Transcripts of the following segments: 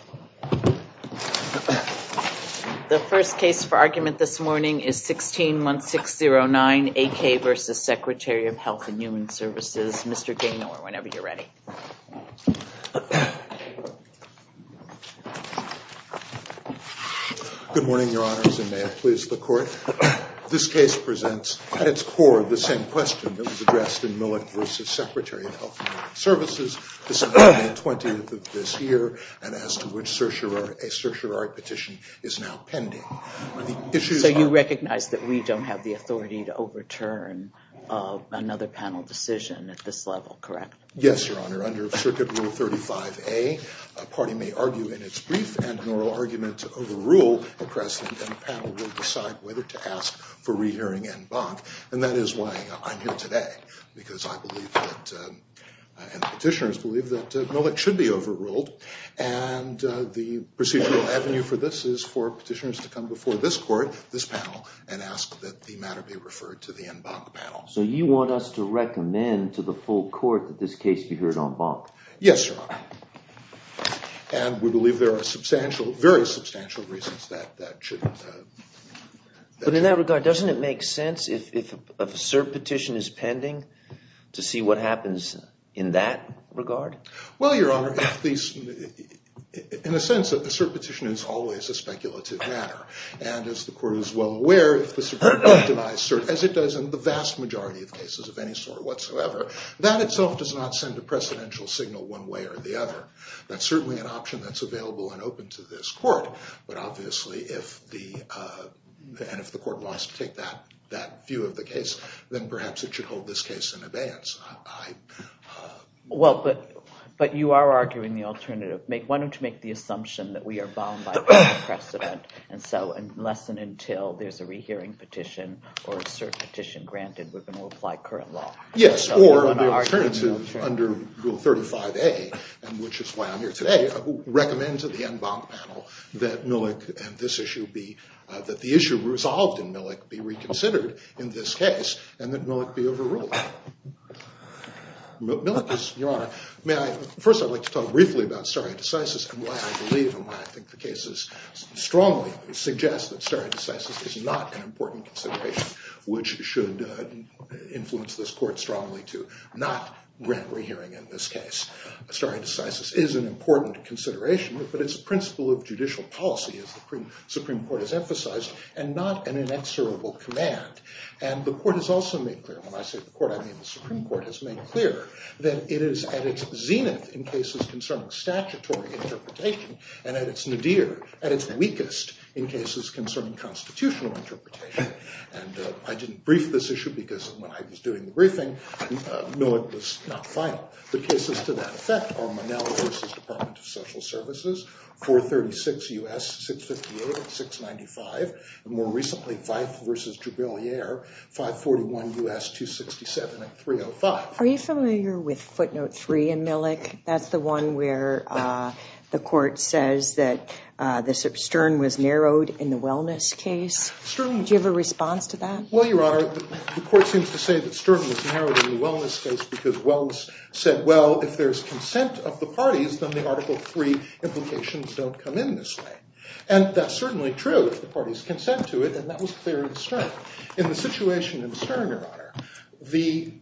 and Human Services, Mr. Gaynor, whenever you're ready. Good morning, Your Honors, and may it please the Court. This case presents, at its core, the same question that was addressed in Millett v. Secretary of Health and Human Services on May 20th of this year, and as to which a certiorari petition is now pending. So you recognize that we don't have the authority to overturn another panel decision at this level, correct? Yes, Your Honor. Under Circuit Rule 35A, a party may argue in its brief and an oral argument over rule, and the panel will decide whether to ask for rehearing en banc. And that is why I'm here today, because I believe that, and the petitioners believe, that Millett should be overruled. And the procedural avenue for this is for petitioners to come before this Court, this panel, and ask that the matter be referred to the en banc panel. So you want us to recommend to the full Court that this case be heard en banc? Yes, Your Honor. And we believe there are substantial, very substantial reasons that that should... But in that regard, doesn't it make sense if a cert petition is pending, to see what happens in that regard? Well, Your Honor, in a sense, a cert petition is always a speculative matter. And as the Court is well aware, if the Supreme Court denies cert, as it does in the vast majority of cases of any sort whatsoever, that itself does not send a precedential signal one way or the other. That's certainly an option that's available and open to this Court. But obviously, if the Court wants to take that view of the case, then perhaps it should hold this case in abeyance. Well, but you are arguing the alternative. Why don't you make the assumption that we are bound by precedent, and so unless and until there's a rehearing petition or a cert petition granted, we're going to apply current law. Yes, or under rule 35A, which is why I'm here today, recommend to the en banc panel that Millick and this issue be... that the issue resolved in Millick be reconsidered in this case, and that Millick be overruled. First, I'd like to talk briefly about stare decisis and why I believe and why I think the cases strongly suggest that stare decisis is not an important consideration, which should influence this Court strongly to not grant rehearing in this case. Stare decisis is an important consideration, but it's a principle of judicial policy, as the Supreme Court has emphasized, and not an inexorable command. And the Court has also made clear, and when I say the Court, I mean the Supreme Court, has made clear that it is at its zenith in cases concerning statutory interpretation and at its nadir, at its weakest, in cases concerning constitutional interpretation. And I didn't brief this issue because when I was doing the briefing, Millick was not final. The cases to that effect are Monell v. Department of Social Services, 436 U.S., 658 and 695, and more recently, Veith v. Jubilier, 541 U.S., 267 and 305. Are you familiar with footnote three in Millick? That's the one where the Court says that the stern was narrowed in the wellness case? Do you have a response to that? Well, Your Honor, the Court seems to say that stern was narrowed in the wellness case because wellness said, well, if there's consent of the parties, then the Article III implications don't come in this way. And that's certainly true if the parties consent to it, and that was clear in the stern. In the situation in the stern, Your Honor, the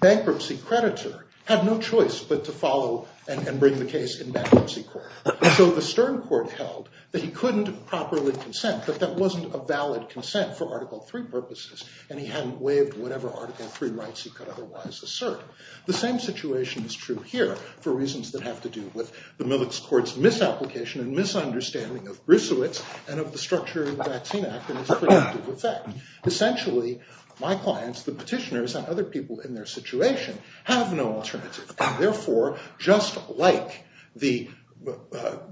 bankruptcy creditor had no choice but to follow and bring the case in bankruptcy court. So the stern court held that he couldn't properly consent, that that wasn't a valid consent for Article III purposes, and he hadn't waived whatever Article III rights he could otherwise assert. The same situation is true here for reasons that have to do with the Millick's Court's misapplication and misunderstanding of Griswitz and of the structure of the Vaccine Act and its predictive effect. Essentially, my clients, the petitioners and other people in their situation, have no alternative, and therefore, just like the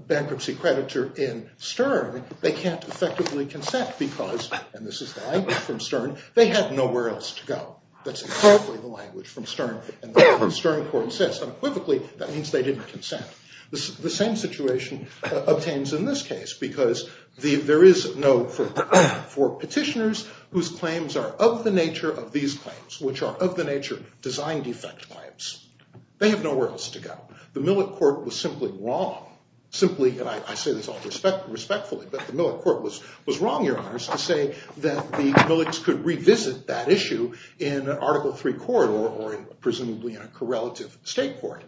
bankruptcy creditor in stern, they can't effectively consent because, and this is the language from stern, they have nowhere else to go. That's incorrectly the language from stern, and the stern court says, unequivocally, that means they didn't consent. The same situation obtains in this case because there is no, for petitioners whose claims are of the nature of these claims, which are of the nature of design defect claims. They have nowhere else to go. The Millick Court was simply wrong, simply, and I say this all respectfully, but the Millick Court was wrong, Your Honors, to say that the Millicks could revisit that issue in an Article III court or presumably in a correlative state court.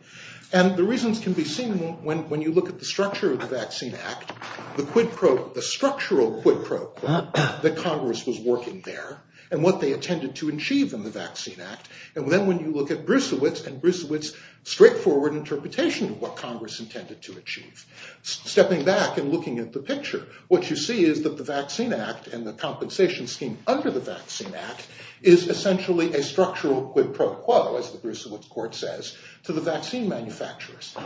And the reasons can be seen when you look at the structure of the Vaccine Act, the structural quid pro quo that Congress was working there and what they intended to achieve in the Vaccine Act, and then when you look at Brucewitz and Brucewitz's straightforward interpretation of what Congress intended to achieve. Stepping back and looking at the picture, what you see is that the Vaccine Act and the compensation scheme under the Vaccine Act is essentially a structural quid pro quo, as the Brucewitz Court says, to the vaccine manufacturers.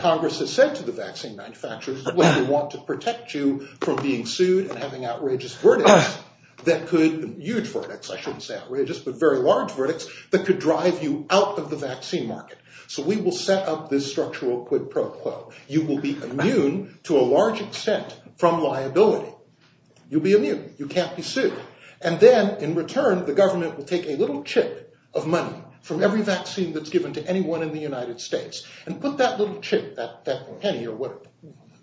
Congress has said to the vaccine manufacturers, we want to protect you from being sued and having outrageous verdicts that could, huge verdicts, I shouldn't say outrageous, but very large verdicts that could drive you out of the vaccine market. So we will set up this structural quid pro quo. You will be immune, to a large extent, from liability. You'll be immune. You can't be sued. And then, in return, the government will take a little chip of money from every vaccine that's given to anyone in the United States and put that little chip, that penny or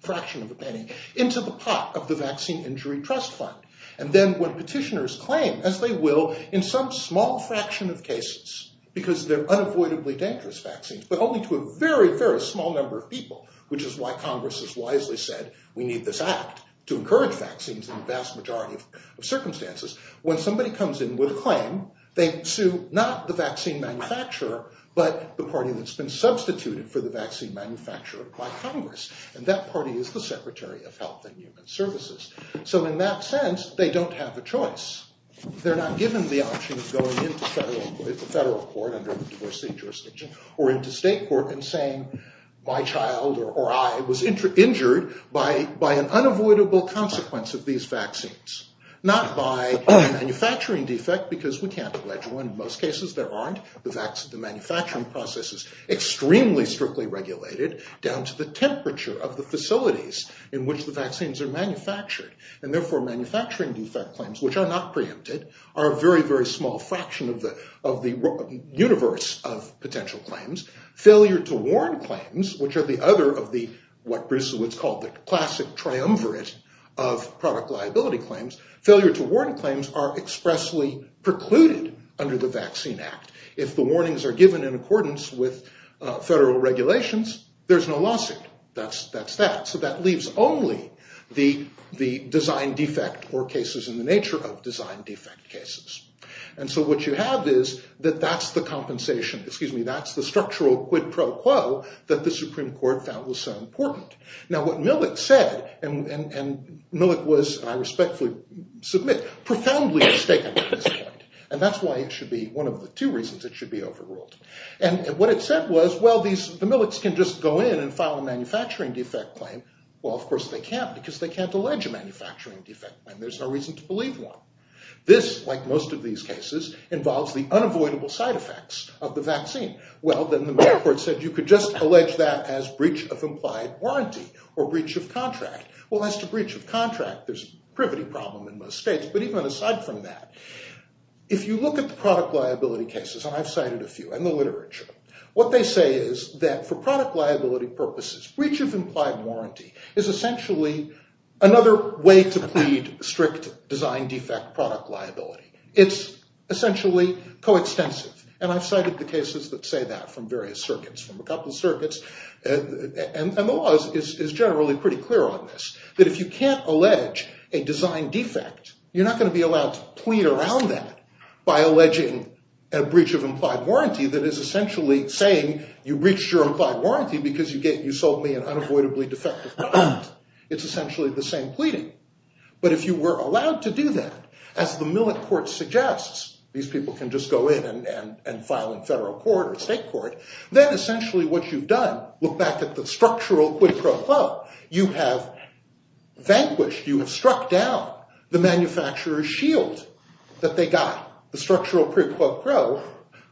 fraction of a penny, into the pot of the Vaccine Injury Trust Fund. And then, when petitioners claim, as they will in some small fraction of cases, because they're unavoidably dangerous vaccines, but only to a very, very small number of people, which is why Congress has wisely said, we need this act to encourage vaccines in the vast majority of circumstances, when somebody comes in with a claim, they sue not the vaccine manufacturer, but the party that's been substituted for the vaccine manufacturer by Congress. And that party is the Secretary of Health and Human Services. So, in that sense, they don't have a choice. They're not given the option of going into federal court, under the diversity jurisdiction, or into state court and saying, my child, or I, was injured by an unavoidable consequence of these vaccines. Not by a manufacturing defect, because we can't allege one. In most cases, there aren't. The manufacturing process is extremely strictly regulated, down to the temperature of the facilities in which the vaccines are manufactured. And therefore, manufacturing defect claims, which are not preempted, are a very, very small fraction of the universe of potential claims. Failure to warn claims, which are the other of the, what Bruce Woods called the classic triumvirate of product liability claims, failure to warn claims are expressly precluded under the Vaccine Act. If the warnings are given in accordance with federal regulations, there's no lawsuit. That's that. So that leaves only the design defect, or cases in the nature of design defect cases. And so what you have is that that's the compensation, excuse me, that's the structural quid pro quo, that the Supreme Court found was so important. Now what Millick said, and Millick was, I respectfully submit, profoundly mistaken at this point. And that's why it should be, one of the two reasons it should be overruled. And what it said was, well, the Millicks can just go in and file a manufacturing defect claim. Well, of course they can't, because they can't allege a manufacturing defect claim. There's no reason to believe one. This, like most of these cases, involves the unavoidable side effects of the vaccine. Well, then the medical court said you could just allege that as breach of implied warranty, or breach of contract. Well, as to breach of contract, there's a privity problem in most states, but even aside from that, if you look at the product liability cases, and I've cited a few in the literature, what they say is that for product liability purposes, breach of implied warranty is essentially another way to plead strict design defect product liability. It's essentially coextensive. And I've cited the cases that say that from various circuits, from a couple circuits. And the law is generally pretty clear on this, that if you can't allege a design defect, you're not going to be allowed to plead around that by alleging a breach of implied warranty that is essentially saying you breached your implied warranty because you sold me an unavoidably defective product. It's essentially the same pleading. But if you were allowed to do that, as the millet court suggests, these people can just go in and file in federal court or state court, then essentially what you've done, look back at the structural quid pro quo, you have vanquished, you have struck down the manufacturer's shield that they got, the structural quid pro quo,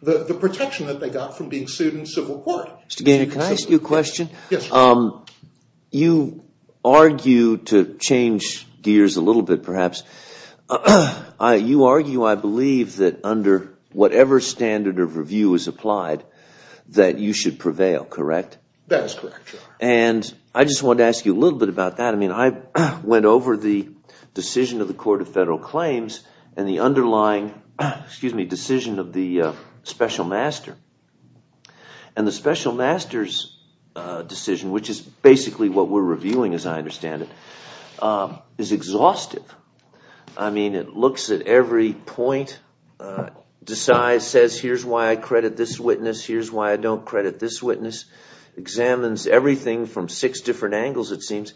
the protection that they got from being sued in civil court. Mr. Gaynor, can I ask you a question? Yes. You argue to change gears a little bit, perhaps. You argue, I believe, that under whatever standard of review is applied, that you should prevail, correct? That is correct. I just wanted to ask you a little bit about that. I went over the decision of the Court of Federal Claims and the underlying decision of the special master. The special master's decision, which is basically what we're reviewing as I understand it, is exhaustive. It looks at every point, says here's why I credit this witness, here's why I don't credit this witness, examines everything from six different angles it seems.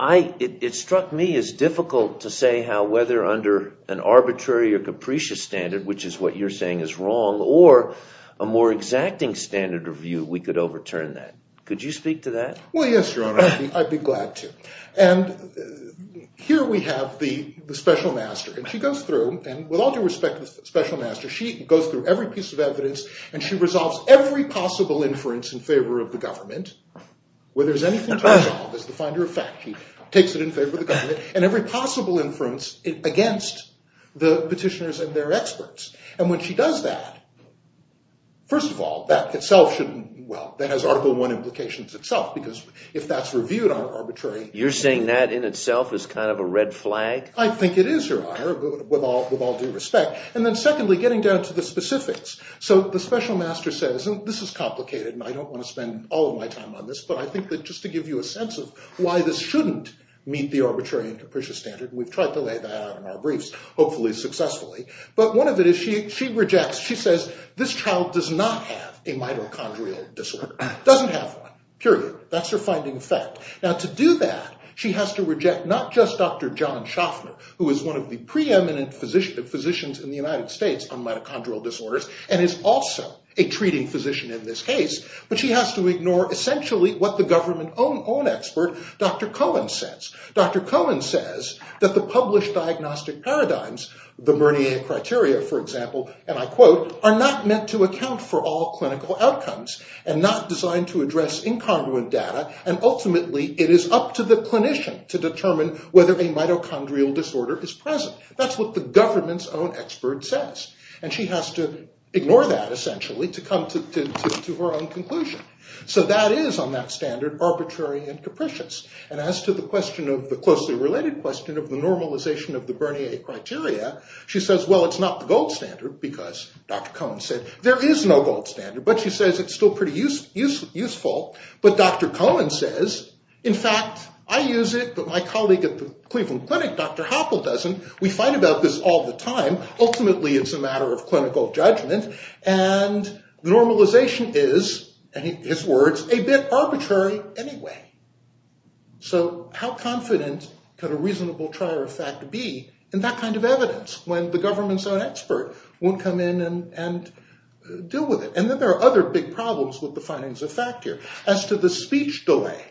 It struck me as difficult to say how whether under an arbitrary or capricious standard, which is what you're saying is wrong, or a more exacting standard of view, we could overturn that. Could you speak to that? Well, yes, Your Honor, I'd be glad to. And here we have the special master, and she goes through, and with all due respect to the special master, she goes through every piece of evidence, and she resolves every possible inference in favor of the government. Where there's anything to resolve, it's the finder of fact. She takes it in favor of the government, and every possible inference against the petitioners and their experts. And when she does that, first of all, that itself should, well, that has Article I implications itself, because if that's reviewed on arbitrary… You're saying that in itself is kind of a red flag? I think it is, Your Honor, with all due respect. And then secondly, getting down to the specifics. So the special master says, and this is complicated, and I don't want to spend all of my time on this, but I think that just to give you a sense of why this shouldn't meet the arbitrary and capricious standard, and we've tried to lay that out in our briefs, hopefully successfully, but one of it is she rejects, she says, this child does not have a mitochondrial disorder. Doesn't have one, period. That's her finding of fact. Now, to do that, she has to reject not just Dr. John Schaffner, who is one of the preeminent physicians in the United States on mitochondrial disorders, and is also a treating physician in this case, but she has to ignore essentially what the government own expert, Dr. Cohen, says. Dr. Cohen says that the published diagnostic paradigms, the Mernier criteria, for example, and I quote, are not meant to account for all clinical outcomes, and not designed to address incongruent data, and ultimately it is up to the clinician to determine whether a mitochondrial disorder is present. That's what the government's own expert says, and she has to ignore that essentially to come to her own conclusion. So that is, on that standard, arbitrary and capricious, and as to the question of the closely related question of the normalization of the Bernier criteria, she says, well, it's not the gold standard because, Dr. Cohen said, there is no gold standard, but she says it's still pretty useful, but Dr. Cohen says, in fact, I use it, but my colleague at the Cleveland Clinic, Dr. Hoppell, doesn't. We fight about this all the time. Ultimately, it's a matter of clinical judgment, and the normalization is, in his words, a bit arbitrary anyway. So how confident could a reasonable trier of fact be in that kind of evidence when the government's own expert won't come in and deal with it? And then there are other big problems with the findings of fact here. As to the speech delay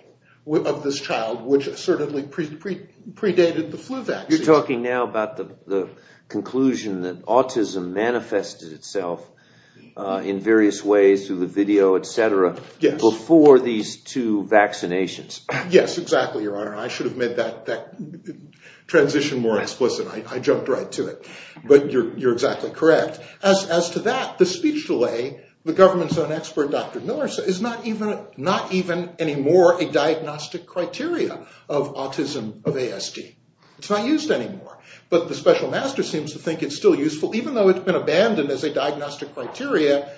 of this child, which assertedly predated the flu vaccine. You're talking now about the conclusion that autism manifested itself in various ways through the video, etc., before these two vaccinations. Yes, exactly, Your Honor. I should have made that transition more explicit. I jumped right to it, but you're exactly correct. As to that, the speech delay, the government's own expert, Dr. Miller, says it's not even anymore a diagnostic criteria of autism, of ASD. It's not used anymore, but the special master seems to think it's still useful, even though it's been abandoned as a diagnostic criteria.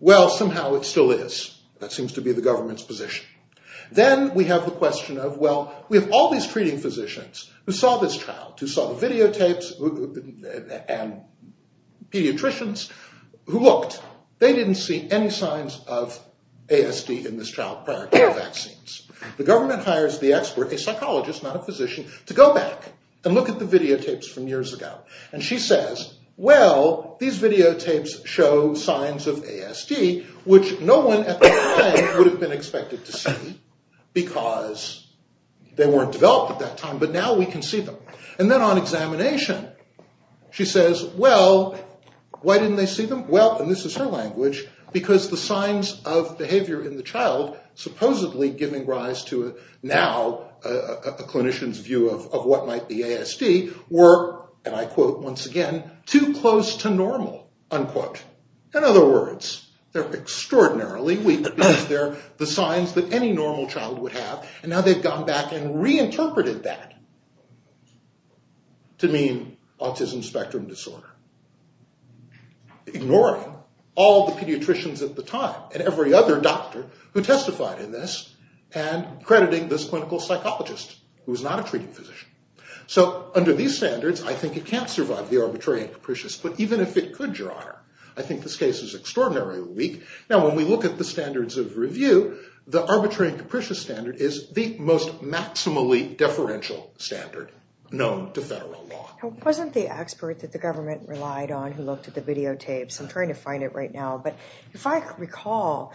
Well, somehow it still is. That seems to be the government's position. Then we have the question of, well, we have all these treating physicians who saw this child, who saw the videotapes, and pediatricians who looked. They didn't see any signs of ASD in this child prior to the vaccines. The government hires the expert, a psychologist, not a physician, to go back and look at the videotapes from years ago. And she says, well, these videotapes show signs of ASD, which no one at the time would have been expected to see, because they weren't developed at that time, but now we can see them. And then on examination, she says, well, why didn't they see them? Well, and this is her language, because the signs of behavior in the child, supposedly giving rise to now a clinician's view of what might be ASD, were, and I quote once again, too close to normal, unquote. In other words, they're extraordinarily weak, because they're the signs that any normal child would have, and now they've gone back and reinterpreted that to mean autism spectrum disorder, ignoring all the pediatricians at the time, and every other doctor who testified in this, and crediting this clinical psychologist, who was not a treating physician. So under these standards, I think it can't survive the arbitrary and capricious, but even if it could, Your Honor, I think this case is extraordinarily weak. Now when we look at the standards of review, the arbitrary and capricious standard is the most maximally deferential standard known to federal law. It wasn't the expert that the government relied on who looked at the videotapes. I'm trying to find it right now, but if I recall,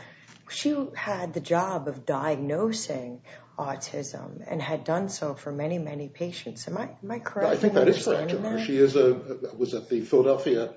she had the job of diagnosing autism and had done so for many, many patients. Am I correct in what you're saying, Your Honor? I think that is correct, Your Honor. She was at the Philadelphia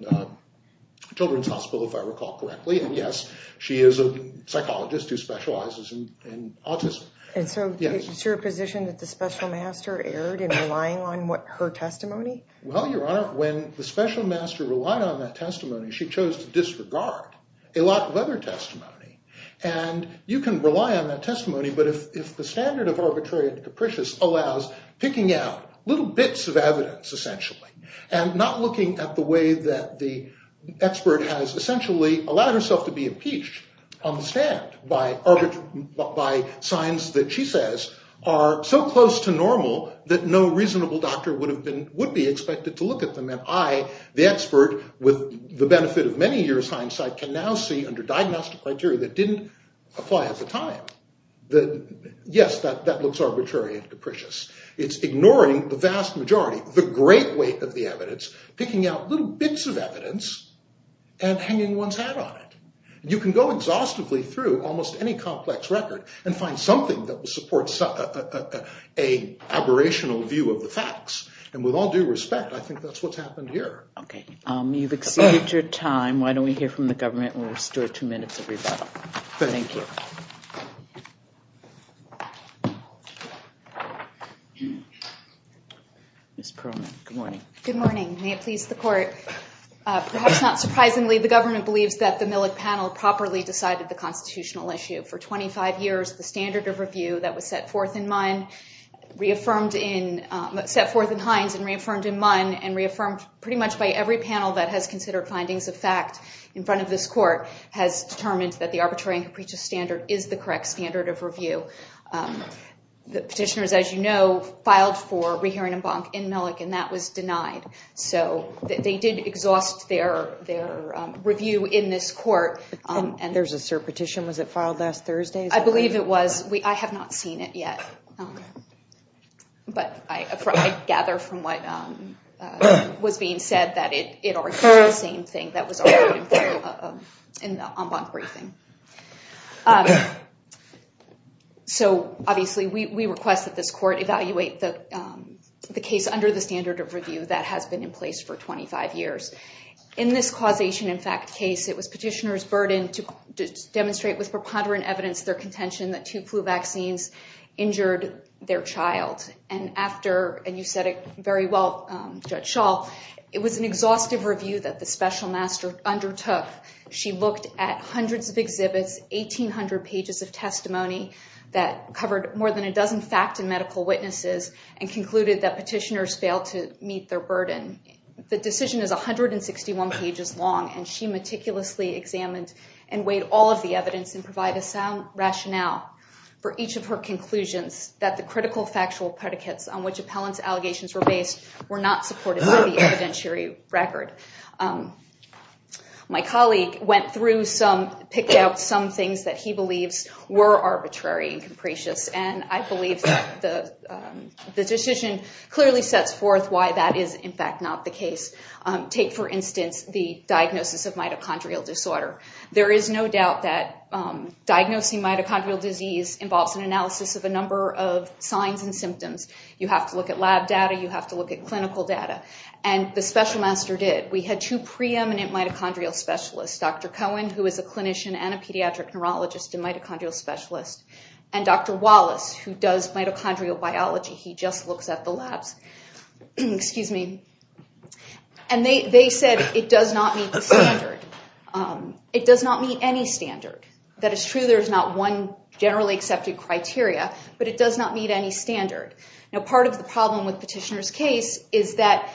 Children's Hospital, if I recall correctly, and yes, she is a psychologist who specializes in autism. And so is your position that the special master erred in relying on her testimony? Well, Your Honor, when the special master relied on that testimony, she chose to disregard a lot of other testimony. And you can rely on that testimony, but if the standard of arbitrary and capricious allows picking out little bits of evidence, essentially, and not looking at the way that the expert has essentially allowed herself to be impeached on the stand by signs that she says are so close to normal that no reasonable doctor would be expected to look at them, and I, the expert, with the benefit of many years' hindsight, can now see under diagnostic criteria that didn't apply at the time, that yes, that looks arbitrary and capricious. It's ignoring the vast majority, the great weight of the evidence, picking out little bits of evidence and hanging one's hat on it. You can go exhaustively through almost any complex record and find something that supports an aberrational view of the facts. And with all due respect, I think that's what's happened here. Okay. You've exceeded your time. Why don't we hear from the government and we'll restore two minutes of rebuttal. Thank you. Sure. Ms. Perlman, good morning. Good morning. May it please the court. Perhaps not surprisingly, the government believes that the Millick panel properly decided the constitutional issue. For 25 years, the standard of review that was set forth in Hines and reaffirmed in Munn and reaffirmed pretty much by every panel that has considered findings of fact in front of this court has determined that the arbitrary and capricious standard is the correct standard of review. The petitioners, as you know, filed for rehearing and bonk in Millick, and that was denied. So they did exhaust their review in this court. And there's a cert petition. Was it filed last Thursday? I believe it was. I have not seen it yet. But I gather from what was being said that it was the same thing that was in the on-bonk briefing. So obviously we request that this court evaluate the case under the standard of review that has been in place for 25 years. In this causation in fact case, it was petitioners' burden to demonstrate with preponderant evidence their contention that two flu vaccines injured their child. And after, and you said it very well, Judge Schall, it was an exhaustive review that the special master undertook. She looked at hundreds of exhibits, 1,800 pages of testimony that covered more than a dozen fact and medical witnesses and concluded that petitioners failed to meet their burden. The decision is 161 pages long, and she meticulously examined and weighed all of the evidence and provided sound rationale for each of her conclusions that the critical factual predicates on which appellant's allegations were based were not supported by the evidentiary record. My colleague went through some, picked out some things that he believes were arbitrary and capricious. And I believe that the decision clearly sets forth why that is in fact not the case. Take for instance the diagnosis of mitochondrial disorder. There is no doubt that diagnosing mitochondrial disease involves an analysis of a number of signs and symptoms. You have to look at lab data. You have to look at clinical data. And the special master did. We had two preeminent mitochondrial specialists, Dr. Cohen, who is a clinician and a pediatric neurologist and mitochondrial specialist, and Dr. Wallace, who does mitochondrial biology. He just looks at the labs. And they said it does not meet the standard. It does not meet any standard. That is true there is not one generally accepted criteria, but it does not meet any standard. Now part of the problem with petitioner's case is that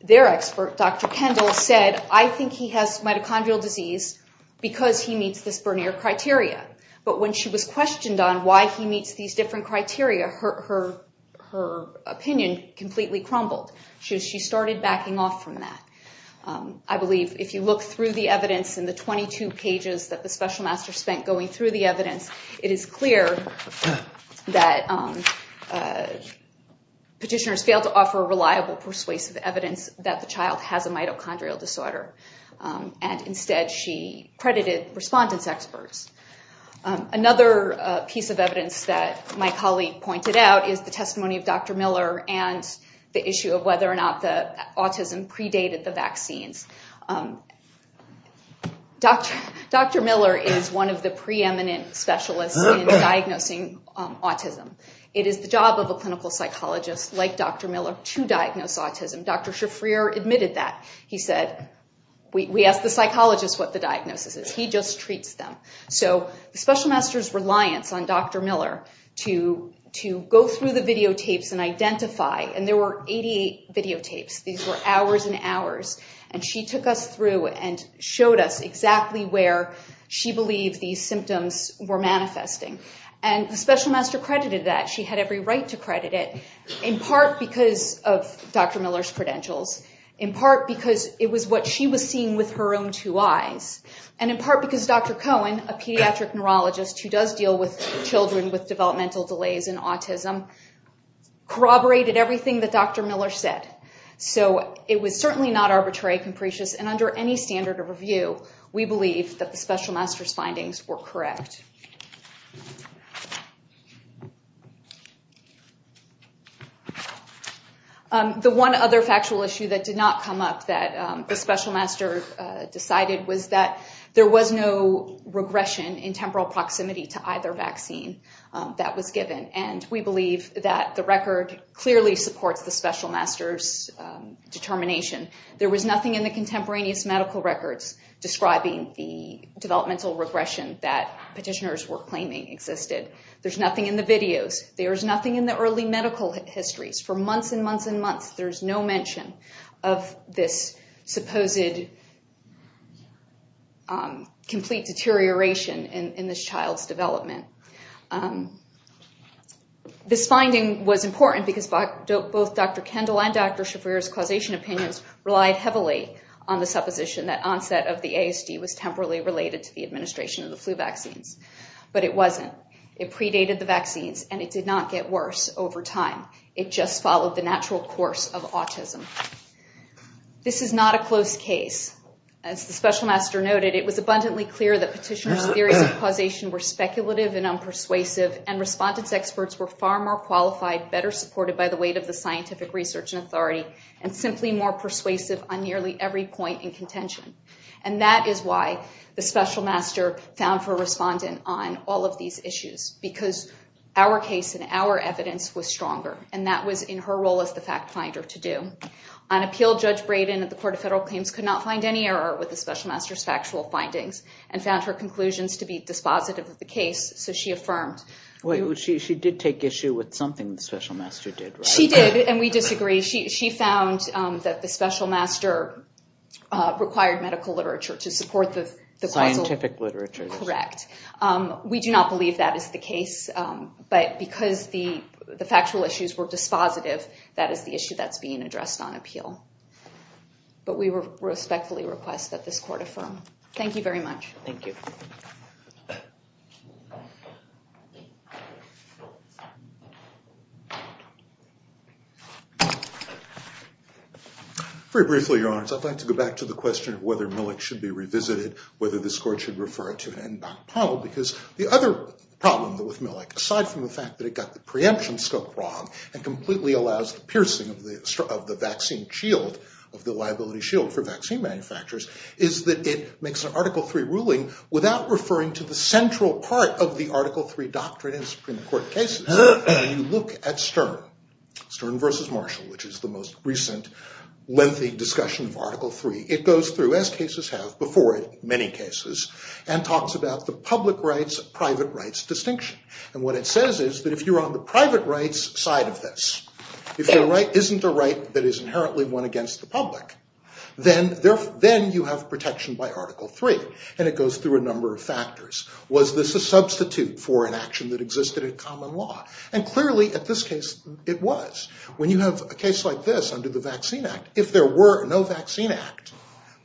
their expert, Dr. Kendall, said, I think he has mitochondrial disease because he meets this Bernier criteria. But when she was questioned on why he meets these different criteria, her opinion completely crumbled. She started backing off from that. I believe if you look through the evidence in the 22 pages that the special master spent going through the evidence, it is clear that petitioners failed to offer reliable, persuasive evidence that the child has a mitochondrial disorder. And instead she credited respondents experts. Another piece of evidence that my colleague pointed out is the testimony of Dr. Miller and the issue of whether or not the autism predated the vaccines. Dr. Miller is one of the preeminent specialists in diagnosing autism. It is the job of a clinical psychologist like Dr. Miller to diagnose autism. Dr. Shafrir admitted that. He said, we asked the psychologist what the diagnosis is. He just treats them. So the special master's reliance on Dr. Miller to go through the videotapes and identify, and there were 88 videotapes. These were hours and hours. And she took us through and showed us exactly where she believed these symptoms were manifesting. And the special master credited that. She had every right to credit it, in part because of Dr. Miller's credentials, in part because it was what she was seeing with her own two eyes, and in part because Dr. Cohen, a pediatric neurologist who does deal with children with developmental delays in autism, corroborated everything that Dr. Miller said. So it was certainly not arbitrary, capricious, and under any standard of review, we believe that the special master's findings were correct. The one other factual issue that did not come up that the special master decided was that there was no regression in temporal proximity to either vaccine that was given, and we believe that the record clearly supports the special master's determination. There was nothing in the contemporaneous medical records describing the developmental regression that petitioners were claiming existed. There's nothing in the videos. There's nothing in the early medical histories. For months and months and months, there's no mention of this supposed complete deterioration in this child's development. This finding was important because both Dr. Kendall and Dr. Shafir's causation opinions relied heavily on the supposition that onset of the ASD was temporally related to the administration of the flu vaccines. But it wasn't. It predated the vaccines, and it did not get worse over time. It just followed the natural course of autism. This is not a close case. As the special master noted, it was abundantly clear that petitioners' theories of causation were speculative and unpersuasive, and respondents' experts were far more qualified, better supported by the weight of the scientific research and authority, and simply more persuasive on nearly every point in contention. And that is why the special master found her respondent on all of these issues, because our case and our evidence was stronger, and that was in her role as the fact finder to do. On appeal, Judge Braden of the Court of Federal Claims could not find any error with the special master's factual findings and found her conclusions to be dispositive of the case, so she affirmed. Wait. She did take issue with something the special master did, right? She did, and we disagree. She found that the special master required medical literature to support the causal. Scientific literature. Correct. We do not believe that is the case. But because the factual issues were dispositive, that is the issue that's being addressed on appeal. But we respectfully request that this court affirm. Thank you very much. Thank you. Very briefly, Your Honors, I'd like to go back to the question of whether Millick should be revisited, whether this court should refer it to an end-back panel, because the other problem with Millick, aside from the fact that it got the preemption scope wrong and completely allows the piercing of the vaccine shield, of the liability shield for vaccine manufacturers, is that it makes an Article III ruling without referring to the central part of the Article III doctrine in Supreme Court cases. You look at Stern, Stern v. Marshall, which is the most recent lengthy discussion of Article III. It goes through, as cases have before it, many cases, and talks about the public rights, private rights distinction. And what it says is that if you're on the private rights side of this, if there isn't a right that is inherently one against the public, then you have protection by Article III. And it goes through a number of factors. Was this a substitute for an action that existed in common law? And clearly, at this case, it was. When you have a case like this under the Vaccine Act, if there were no Vaccine Act,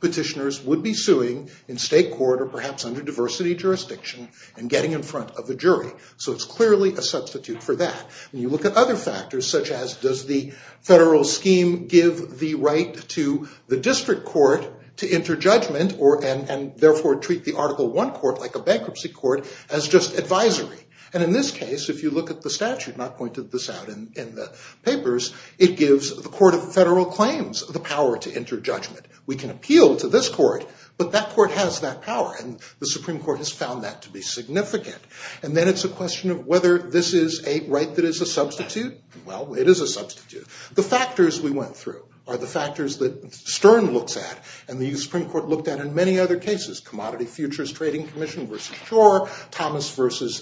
petitioners would be suing in state court, or perhaps under diversity jurisdiction, and getting in front of the jury. So it's clearly a substitute for that. When you look at other factors, such as does the federal scheme give the right to the district court to enter judgment, and therefore treat the Article I court like a bankruptcy court, as just advisory. And in this case, if you look at the statute, and I've pointed this out in the papers, it gives the Court of Federal Claims the power to enter judgment. We can appeal to this court, but that court has that power, and the Supreme Court has found that to be significant. And then it's a question of whether this is a right that is a substitute. Well, it is a substitute. The factors we went through are the factors that Stern looks at, and the Supreme Court looked at in many other cases, Commodity Futures Trading Commission v. Shore, Thomas v.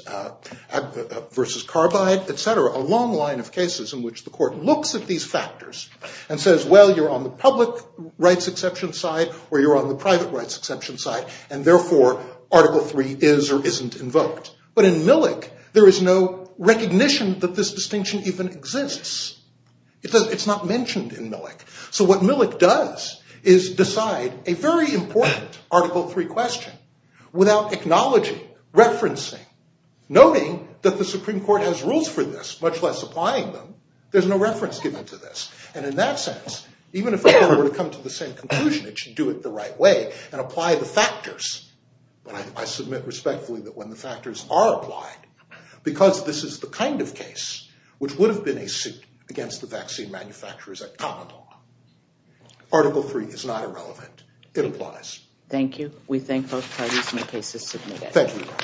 Carbide, etc., and there are a long line of cases in which the court looks at these factors and says, well, you're on the public rights exception side, or you're on the private rights exception side, and therefore Article III is or isn't invoked. But in Millick, there is no recognition that this distinction even exists. It's not mentioned in Millick. So what Millick does is decide a very important Article III question without acknowledging, referencing, noting that the Supreme Court has rules for this, much less applying them. There's no reference given to this. And in that sense, even if the court were to come to the same conclusion, it should do it the right way and apply the factors. But I submit respectfully that when the factors are applied, because this is the kind of case which would have been a suit against the vaccine manufacturers at Commodore, Article III is not irrelevant. It applies. Thank you. We thank both parties, and the case is submitted. Thank you.